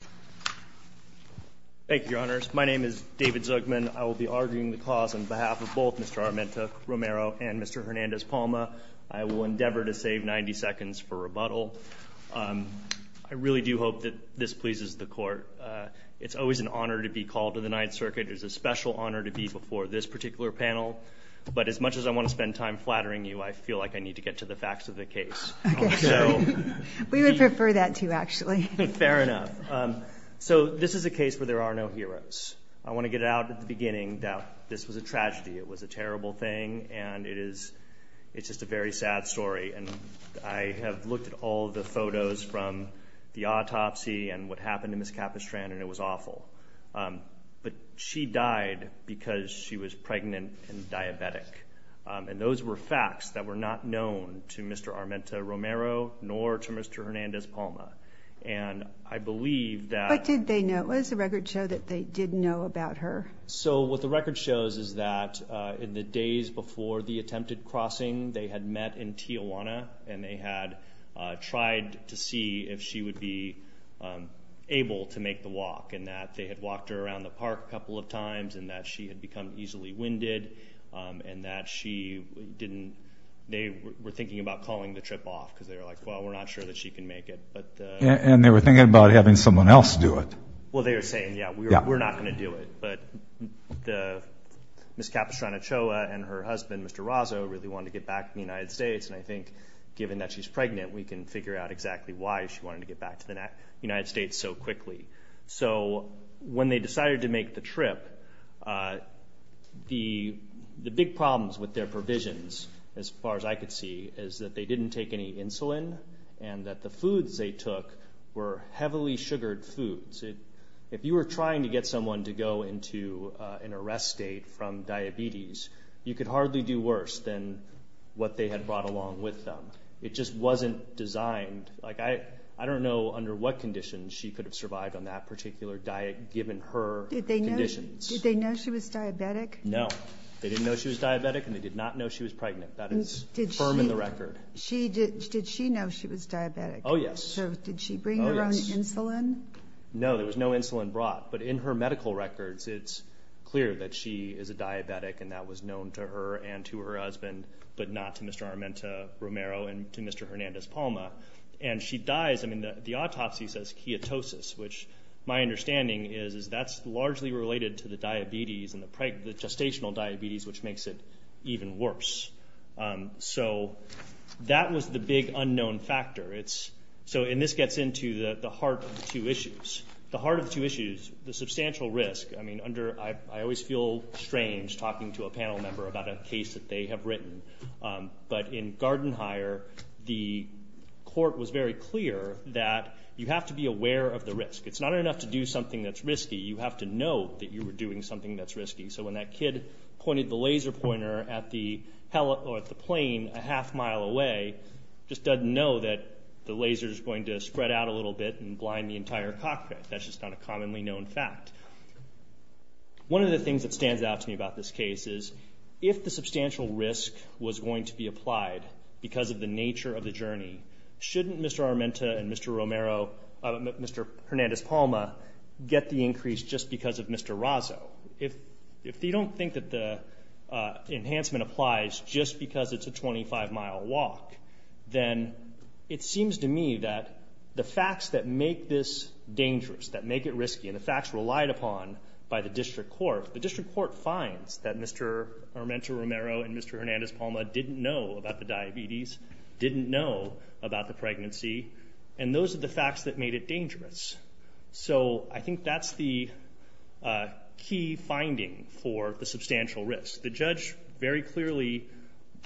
on behalf of both Mr. Armenta-Romero and Mr. Hernandez-Palma, I will endeavor to save 90 seconds for rebuttal. I really do hope that this pleases the court. It's always an honor to be called to the Ninth Circuit. It is a special honor to be before this particular panel. But as much as I want to spend time flattering you, I feel like I need to get to the facts of the case. We would prefer that too, actually. Fair enough. So this is a case where there are no heroes. I want to get out at the beginning that this was a tragedy. It was a terrible thing. And it is, it's just a very sad story. And I have looked at all the photos from the autopsy and what happened to Ms. Capastran and it was awful. But she died because she was pregnant and diabetic. And those were not known to Mr. Armenta-Romero nor to Mr. Hernandez-Palma. And I believe that... What did they know? What does the record show that they did know about her? So what the record shows is that in the days before the attempted crossing, they had met in Tijuana and they had tried to see if she would be able to make the walk. And that they had walked her around the park a couple of times and that she had become easily winded and that she didn't... They were thinking about calling the trip off because they were like, well, we're not sure that she can make it. And they were thinking about having someone else do it. Well, they were saying, yeah, we're not going to do it. But Ms. Capastran-Ochoa and her husband, Mr. Razo, really wanted to get back to the United States. And I think given that she's pregnant, we can figure out exactly why she wanted to get back to the United States so quickly. So when they decided to make the trip, the big problems with their provisions, as far as I could see, is that they didn't take any insulin and that the foods they took were heavily sugared foods. If you were trying to get someone to go into an arrest state from diabetes, you could hardly do worse than what they had brought along with them. It just wasn't designed. I don't know under what conditions she could have survived on that particular diet given her conditions. Did they know she was diabetic? No. They didn't know she was diabetic and they did not know she was pregnant. That is firm in the record. Did she know she was diabetic? Oh, yes. So did she bring her own insulin? No, there was no insulin brought. But in her medical records, it's clear that she is a diabetic and that was known to her and to her husband, but not to Mr. Armenta-Romero and to Mr. Hernandez-Palma. The autopsy says ketosis, which my understanding is that's largely related to the diabetes and the gestational diabetes, which makes it even worse. So that was the big unknown factor. And this gets into the heart of the two issues. The substantial risk. I mean, I always feel strange talking to a panel member about a case that they have written. But in Garden Hire, the court was very clear that you have to be aware of the risk. It's not enough to do something that's risky. You have to know that you were doing something that's risky. So when that kid pointed the laser pointer at the plane a half mile away, just doesn't know that the laser is going to spread out a little bit and blind the entire cockpit. That's just not a commonly known fact. One of the things that stands out to me about this case is, if the substantial risk was going to be applied because of the nature of the journey, shouldn't Mr. Armenta and Mr. Hernandez-Palma get the increase just because of Mr. Razo? If you don't think that the enhancement applies just because it's a 25-mile walk, then it seems to me that the facts that make this dangerous, that make it risky, and the facts relied upon by the district court, the district court finds that Mr. Armenta-Romero and Mr. Hernandez-Palma didn't know about the diabetes, didn't know about the pregnancy, and those are the facts that made it dangerous. So I think that's the key finding for the substantial risk. The judge very clearly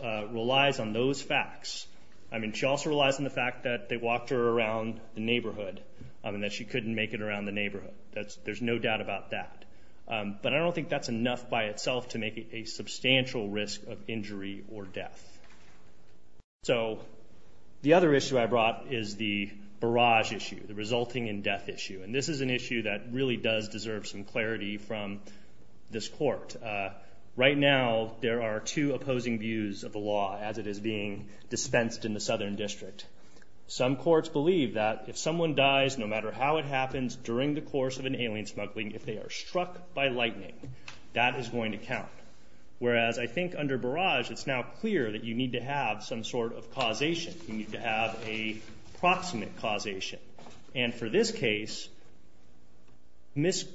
relies on those facts. I mean, she also relies on the fact that they walked her around the neighborhood and that she couldn't make it around the neighborhood. There's no doubt about that. But I don't think that's enough by itself to make it a substantial risk of injury or death. So the other issue I brought is the barrage issue, the resulting in death issue, and this is an issue that really does deserve some clarity from this court. Right now, there are two opposing views of the law as it is being dispensed in the Southern District. Some courts believe that if someone dies, no matter how it happens, during the course of an alien smuggling, if they are struck by lightning, that is going to count, whereas I think under barrage, it's now clear that you need to have some sort of causation. You need to have a proximate causation. And for this case, Ms.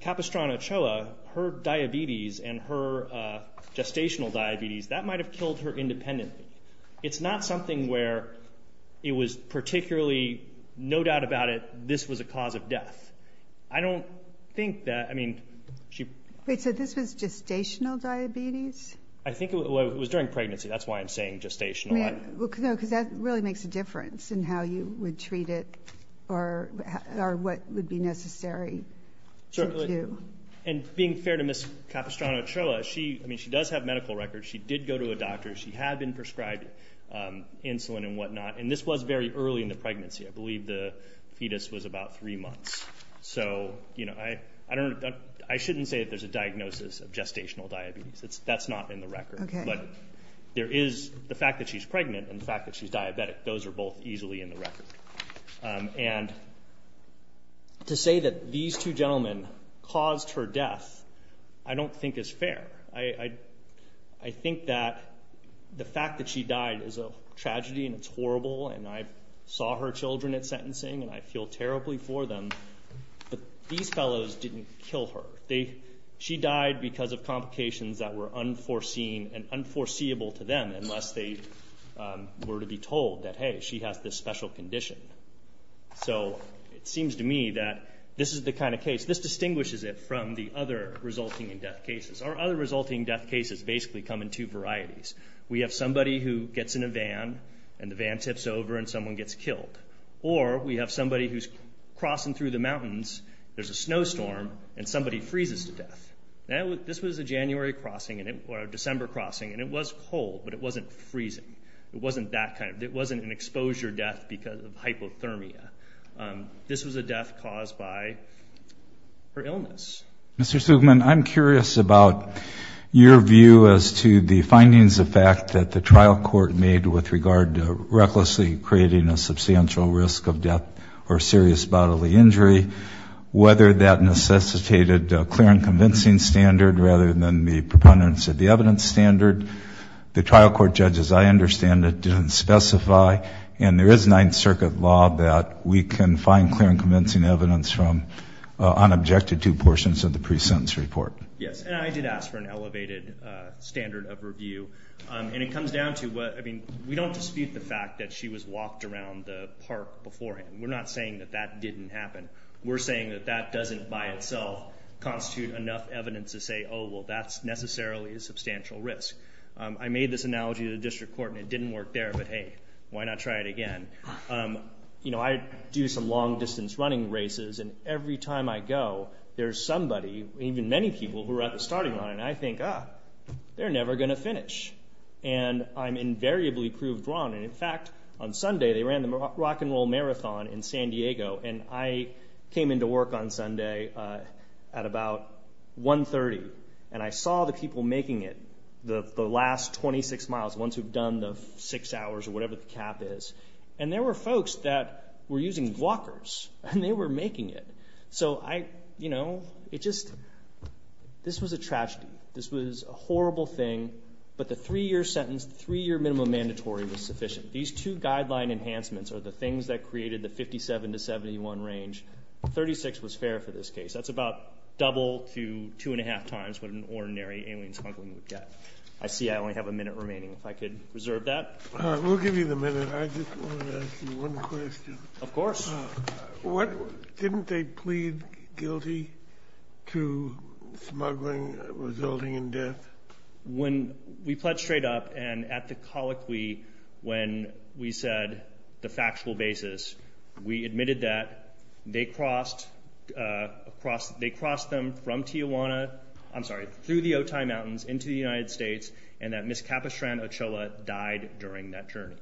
Capistrano-Ochoa, her diabetes and her gestational diabetes, that might have killed her independently. It's not something where it was particularly no doubt about it, this was a cause of death. I don't think that, I mean, she. Wait, so this was gestational diabetes? I think it was during pregnancy. That's why I'm saying gestational. Because that really makes a difference in how you would treat it or what would be necessary to do. And being fair to Ms. Capistrano-Ochoa, I mean, she does have medical records. She did go to a doctor. She had been prescribed insulin and whatnot, and this was very early in the pregnancy. I believe the fetus was about three months. So, you know, I shouldn't say that there's a diagnosis of gestational diabetes. That's not in the record. But there is the fact that she's pregnant and the fact that she's diabetic. Those are both easily in the record. And to say that these two gentlemen caused her death I don't think is fair. I think that the fact that she died is a tragedy and it's horrible, and I saw her children at sentencing and I feel terribly for them. But these fellows didn't kill her. She died because of complications that were unforeseen and unforeseeable to them unless they were to be told that, hey, she has this special condition. So it seems to me that this is the kind of case. This distinguishes it from the other resulting in death cases. Our other resulting in death cases basically come in two varieties. We have somebody who gets in a van and the van tips over and someone gets killed. Or we have somebody who's crossing through the mountains, there's a snowstorm, and somebody freezes to death. This was a January crossing or a December crossing, and it was cold, but it wasn't freezing. It wasn't that kind of, it wasn't an exposure death because of hypothermia. This was a death caused by her illness. Mr. Sugman, I'm curious about your view as to the findings of fact that the trial court made with regard to recklessly creating a substantial risk of death or serious bodily injury, whether that necessitated a clear and convincing standard rather than the preponderance of the evidence standard. The trial court judges, I understand, didn't specify, and there is Ninth Circuit law that we can find clear and convincing evidence from unobjected two portions of the pre-sentence report. Yes, and I did ask for an elevated standard of review. And it comes down to what, I mean, we don't dispute the fact that she was walked around the park beforehand. We're not saying that that didn't happen. We're saying that that doesn't by itself constitute enough evidence to say, oh, well, that's necessarily a substantial risk. I made this analogy to the district court, and it didn't work there. But, hey, why not try it again? You know, I do some long-distance running races, and every time I go, there's somebody, even many people who are at the starting line, and I think, ah, they're never going to finish. And I'm invariably proved wrong. And, in fact, on Sunday they ran the Rock and Roll Marathon in San Diego, and I came into work on Sunday at about 1.30, and I saw the people making it the last 26 miles, the ones who've done the six hours or whatever the cap is. And there were folks that were using walkers, and they were making it. So, you know, it just, this was a tragedy. This was a horrible thing, but the three-year sentence, the three-year minimum mandatory was sufficient. These two guideline enhancements are the things that created the 57 to 71 range. 36 was fair for this case. That's about double to two-and-a-half times what an ordinary alien smuggling would get. I see I only have a minute remaining. If I could reserve that. We'll give you the minute. I just want to ask you one question. Of course. Didn't they plead guilty to smuggling resulting in death? When we pled straight up and at the colloquy when we said the factual basis, we admitted that they crossed them from Tijuana, I'm sorry, through the Otay Mountains into the United States and that Ms. Capistran Ochoa died during that journey.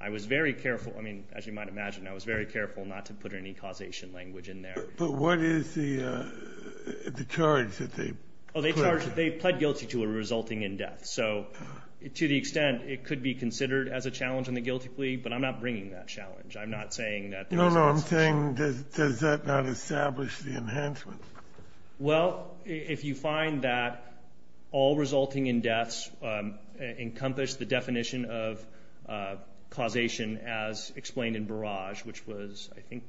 I was very careful, I mean, as you might imagine, I was very careful not to put any causation language in there. But what is the charge that they pled? Oh, they pled guilty to a resulting in death. So to the extent it could be considered as a challenge in the guilty plea, but I'm not bringing that challenge. I'm not saying that there is. No, no, I'm saying does that not establish the enhancement? Well, if you find that all resulting in deaths encompass the definition of causation as explained in Barrage, which was, I think,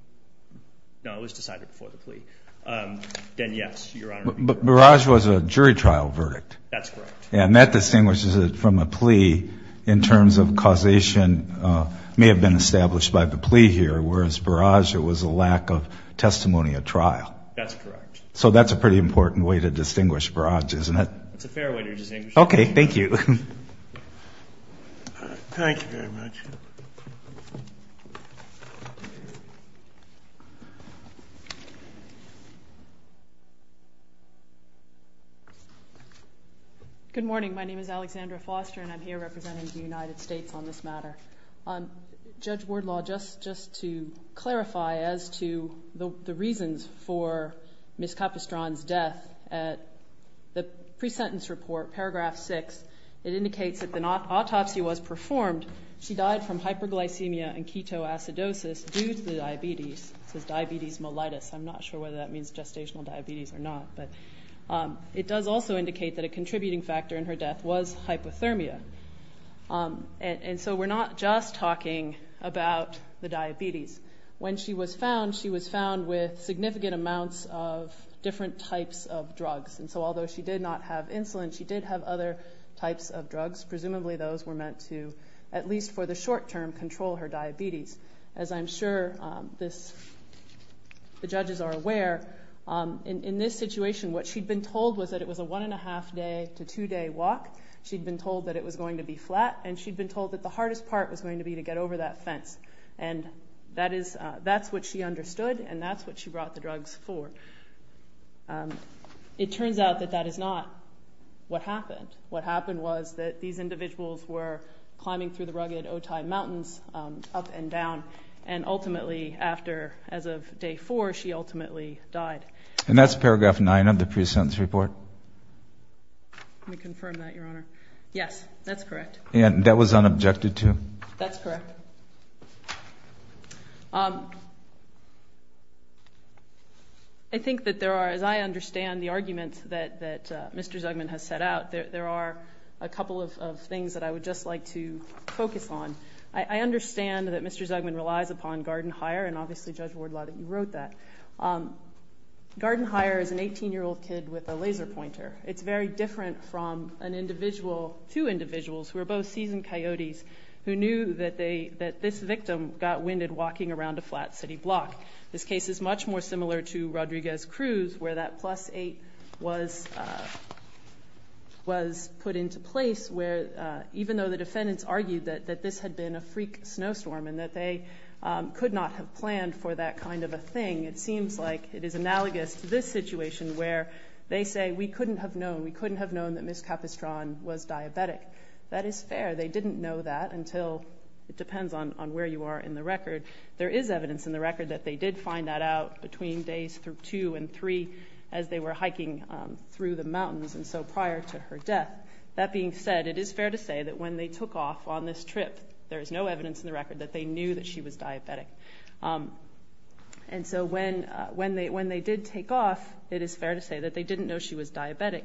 no, it was decided before the plea, then yes, Your Honor. But Barrage was a jury trial verdict. That's correct. And that distinguishes it from a plea in terms of causation may have been established by the plea here, whereas Barrage, it was a lack of testimony at trial. That's correct. So that's a pretty important way to distinguish Barrage, isn't it? It's a fair way to distinguish. Okay, thank you. Thank you very much. Good morning. My name is Alexandra Foster, and I'm here representing the United States on this matter. Judge Wardlaw, just to clarify as to the reasons for Ms. Capestran's death, the pre-sentence report, paragraph 6, it indicates that an autopsy was performed. She died from hyperglycemia and ketoacidosis due to diabetes. It says diabetes mellitus. I'm not sure whether that means gestational diabetes or not. But it does also indicate that a contributing factor in her death was hypothermia. And so we're not just talking about the diabetes. When she was found, she was found with significant amounts of different types of drugs. And so although she did not have insulin, she did have other types of drugs. Presumably those were meant to, at least for the short term, control her diabetes. As I'm sure the judges are aware, in this situation, what she'd been told was that it was a one-and-a-half day to two-day walk. She'd been told that it was going to be flat, and she'd been told that the hardest part was going to be to get over that fence. And that's what she understood, and that's what she brought the drugs for. It turns out that that is not what happened. What happened was that these individuals were climbing through the rugged Otai Mountains up and down, and ultimately after, as of day four, she ultimately died. And that's paragraph 9 of the pre-sentence report. Let me confirm that, Your Honor. Yes, that's correct. And that was unobjected to? That's correct. I think that there are, as I understand the arguments that Mr. Zugman has set out, there are a couple of things that I would just like to focus on. I understand that Mr. Zugman relies upon garden hire, and obviously Judge Wardlaw that you wrote that. Garden hire is an 18-year-old kid with a laser pointer. It's very different from two individuals who are both seasoned coyotes who knew that this victim got winded walking around a flat city block. This case is much more similar to Rodriguez-Cruz, where that plus 8 was put into place, even though the defendants argued that this had been a freak snowstorm and that they could not have planned for that kind of a thing. It seems like it is analogous to this situation where they say, we couldn't have known, we couldn't have known that Ms. Capistran was diabetic. That is fair. They didn't know that until, it depends on where you are in the record. There is evidence in the record that they did find that out between days 2 and 3 as they were hiking through the mountains, and so prior to her death. That being said, it is fair to say that when they took off on this trip, there is no evidence in the record that they knew that she was diabetic. And so when they did take off, it is fair to say that they didn't know she was diabetic.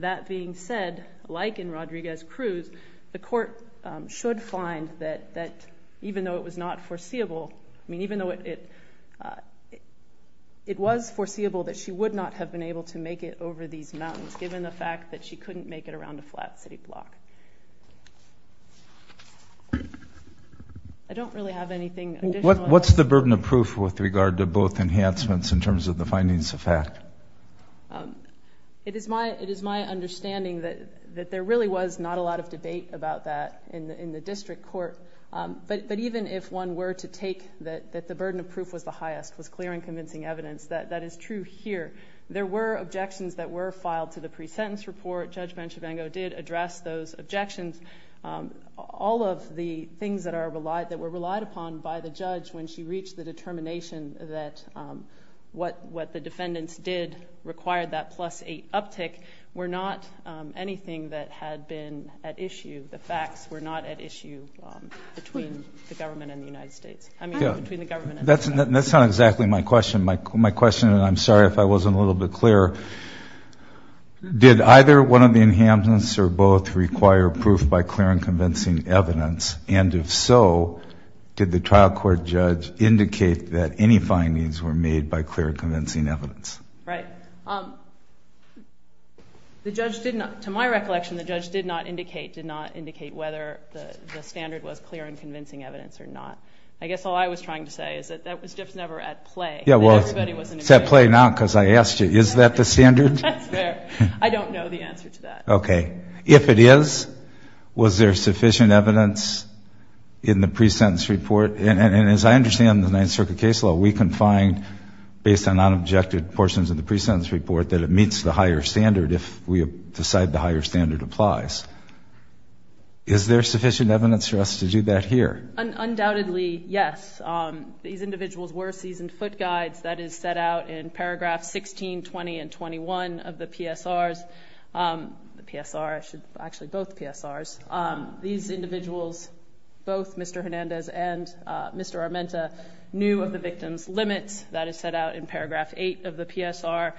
That being said, like in Rodriguez-Cruz, the court should find that even though it was not foreseeable, I mean even though it was foreseeable that she would not have been able to make it over these mountains given the fact that she couldn't make it around a flat city block. I don't really have anything additional. What's the burden of proof with regard to both enhancements in terms of the findings of fact? It is my understanding that there really was not a lot of debate about that in the district court. But even if one were to take that the burden of proof was the highest, was clear and convincing evidence, that is true here. There were objections that were filed to the pre-sentence report. Judge Banchivengo did address those objections. All of the things that were relied upon by the judge when she reached the determination that what the defendants did required that plus eight uptick were not anything that had been at issue. The facts were not at issue between the government and the United States. I mean between the government and the United States. That's not exactly my question. My question, and I'm sorry if I wasn't a little bit clearer, did either one of the enhancements or both require proof by clear and convincing evidence? And if so, did the trial court judge indicate that any findings were made by clear and convincing evidence? Right. The judge did not, to my recollection, the judge did not indicate, did not indicate whether the standard was clear and convincing evidence or not. I guess all I was trying to say is that that was just never at play. Yeah, well, it's at play now because I asked you. Is that the standard? That's fair. I don't know the answer to that. Okay. If it is, was there sufficient evidence in the pre-sentence report? And as I understand the Ninth Circuit case law, we can find based on non-objective portions of the pre-sentence report that it meets the higher standard if we decide the higher standard applies. Is there sufficient evidence for us to do that here? Undoubtedly, yes. These individuals were seasoned foot guides. That is set out in Paragraph 16, 20, and 21 of the PSRs. The PSR, actually both PSRs. These individuals, both Mr. Hernandez and Mr. Armenta, knew of the victim's limits. That is set out in Paragraph 8 of the PSR.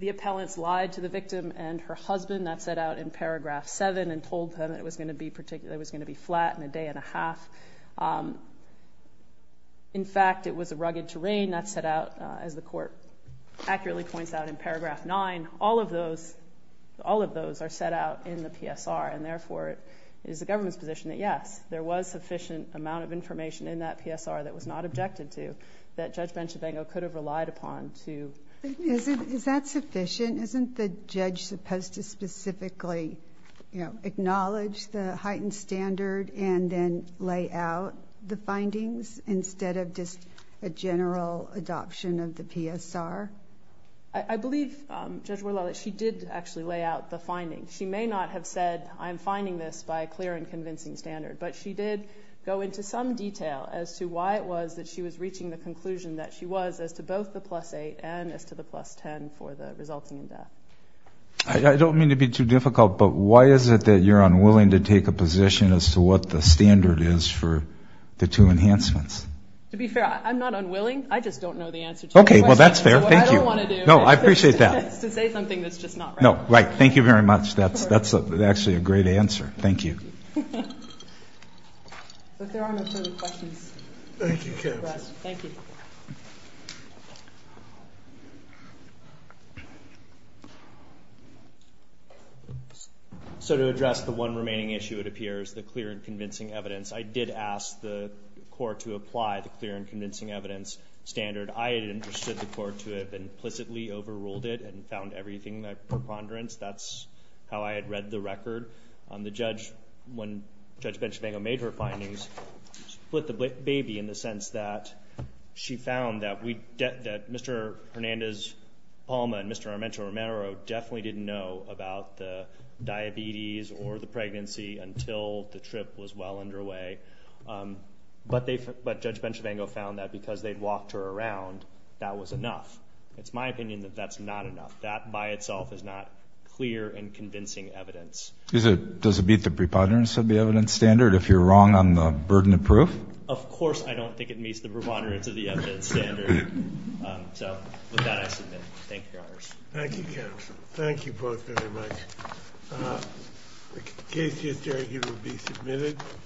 The appellants lied to the victim and her husband. That's set out in Paragraph 7 and told them it was going to be flat in a day and a half. In fact, it was a rugged terrain. That's set out, as the court accurately points out in Paragraph 9. All of those are set out in the PSR. And, therefore, it is the government's position that, yes, there was sufficient amount of information in that PSR that was not objected to that Judge Benchabango could have relied upon. Is that sufficient? Isn't the judge supposed to specifically acknowledge the heightened standard and then lay out the findings instead of just a general adoption of the PSR? I believe, Judge Worlalli, that she did actually lay out the findings. She may not have said, I'm finding this by a clear and convincing standard, but she did go into some detail as to why it was that she was reaching the conclusion that she was as to both the plus 8 and as to the plus 10 for the resulting death. I don't mean to be too difficult, but why is it that you're unwilling to take a position as to what the standard is for the two enhancements? To be fair, I'm not unwilling. I just don't know the answer to the question. Okay, well, that's fair. Thank you. That's what I don't want to do. No, I appreciate that. It's to say something that's just not right. No, right. Thank you very much. That's actually a great answer. Thank you. But there are no further questions. Thank you, counsel. Thank you. So to address the one remaining issue, it appears, the clear and convincing evidence, I did ask the court to apply the clear and convincing evidence standard. I had interested the court to have implicitly overruled it and found everything a preponderance. That's how I had read the record. The judge, when Judge Benchavango made her findings, split the baby in the sense that she found that Mr. Hernandez-Palma and Mr. Armento-Romero definitely didn't know about the diabetes or the pregnancy until the trip was well underway. But Judge Benchavango found that because they'd walked her around, that was enough. It's my opinion that that's not enough. That by itself is not clear and convincing evidence. Does it beat the preponderance of the evidence standard if you're wrong on the burden of proof? Of course I don't think it meets the preponderance of the evidence standard. So with that, I submit. Thank you, Your Honors. Thank you, counsel. Thank you both very much. The case history will be submitted.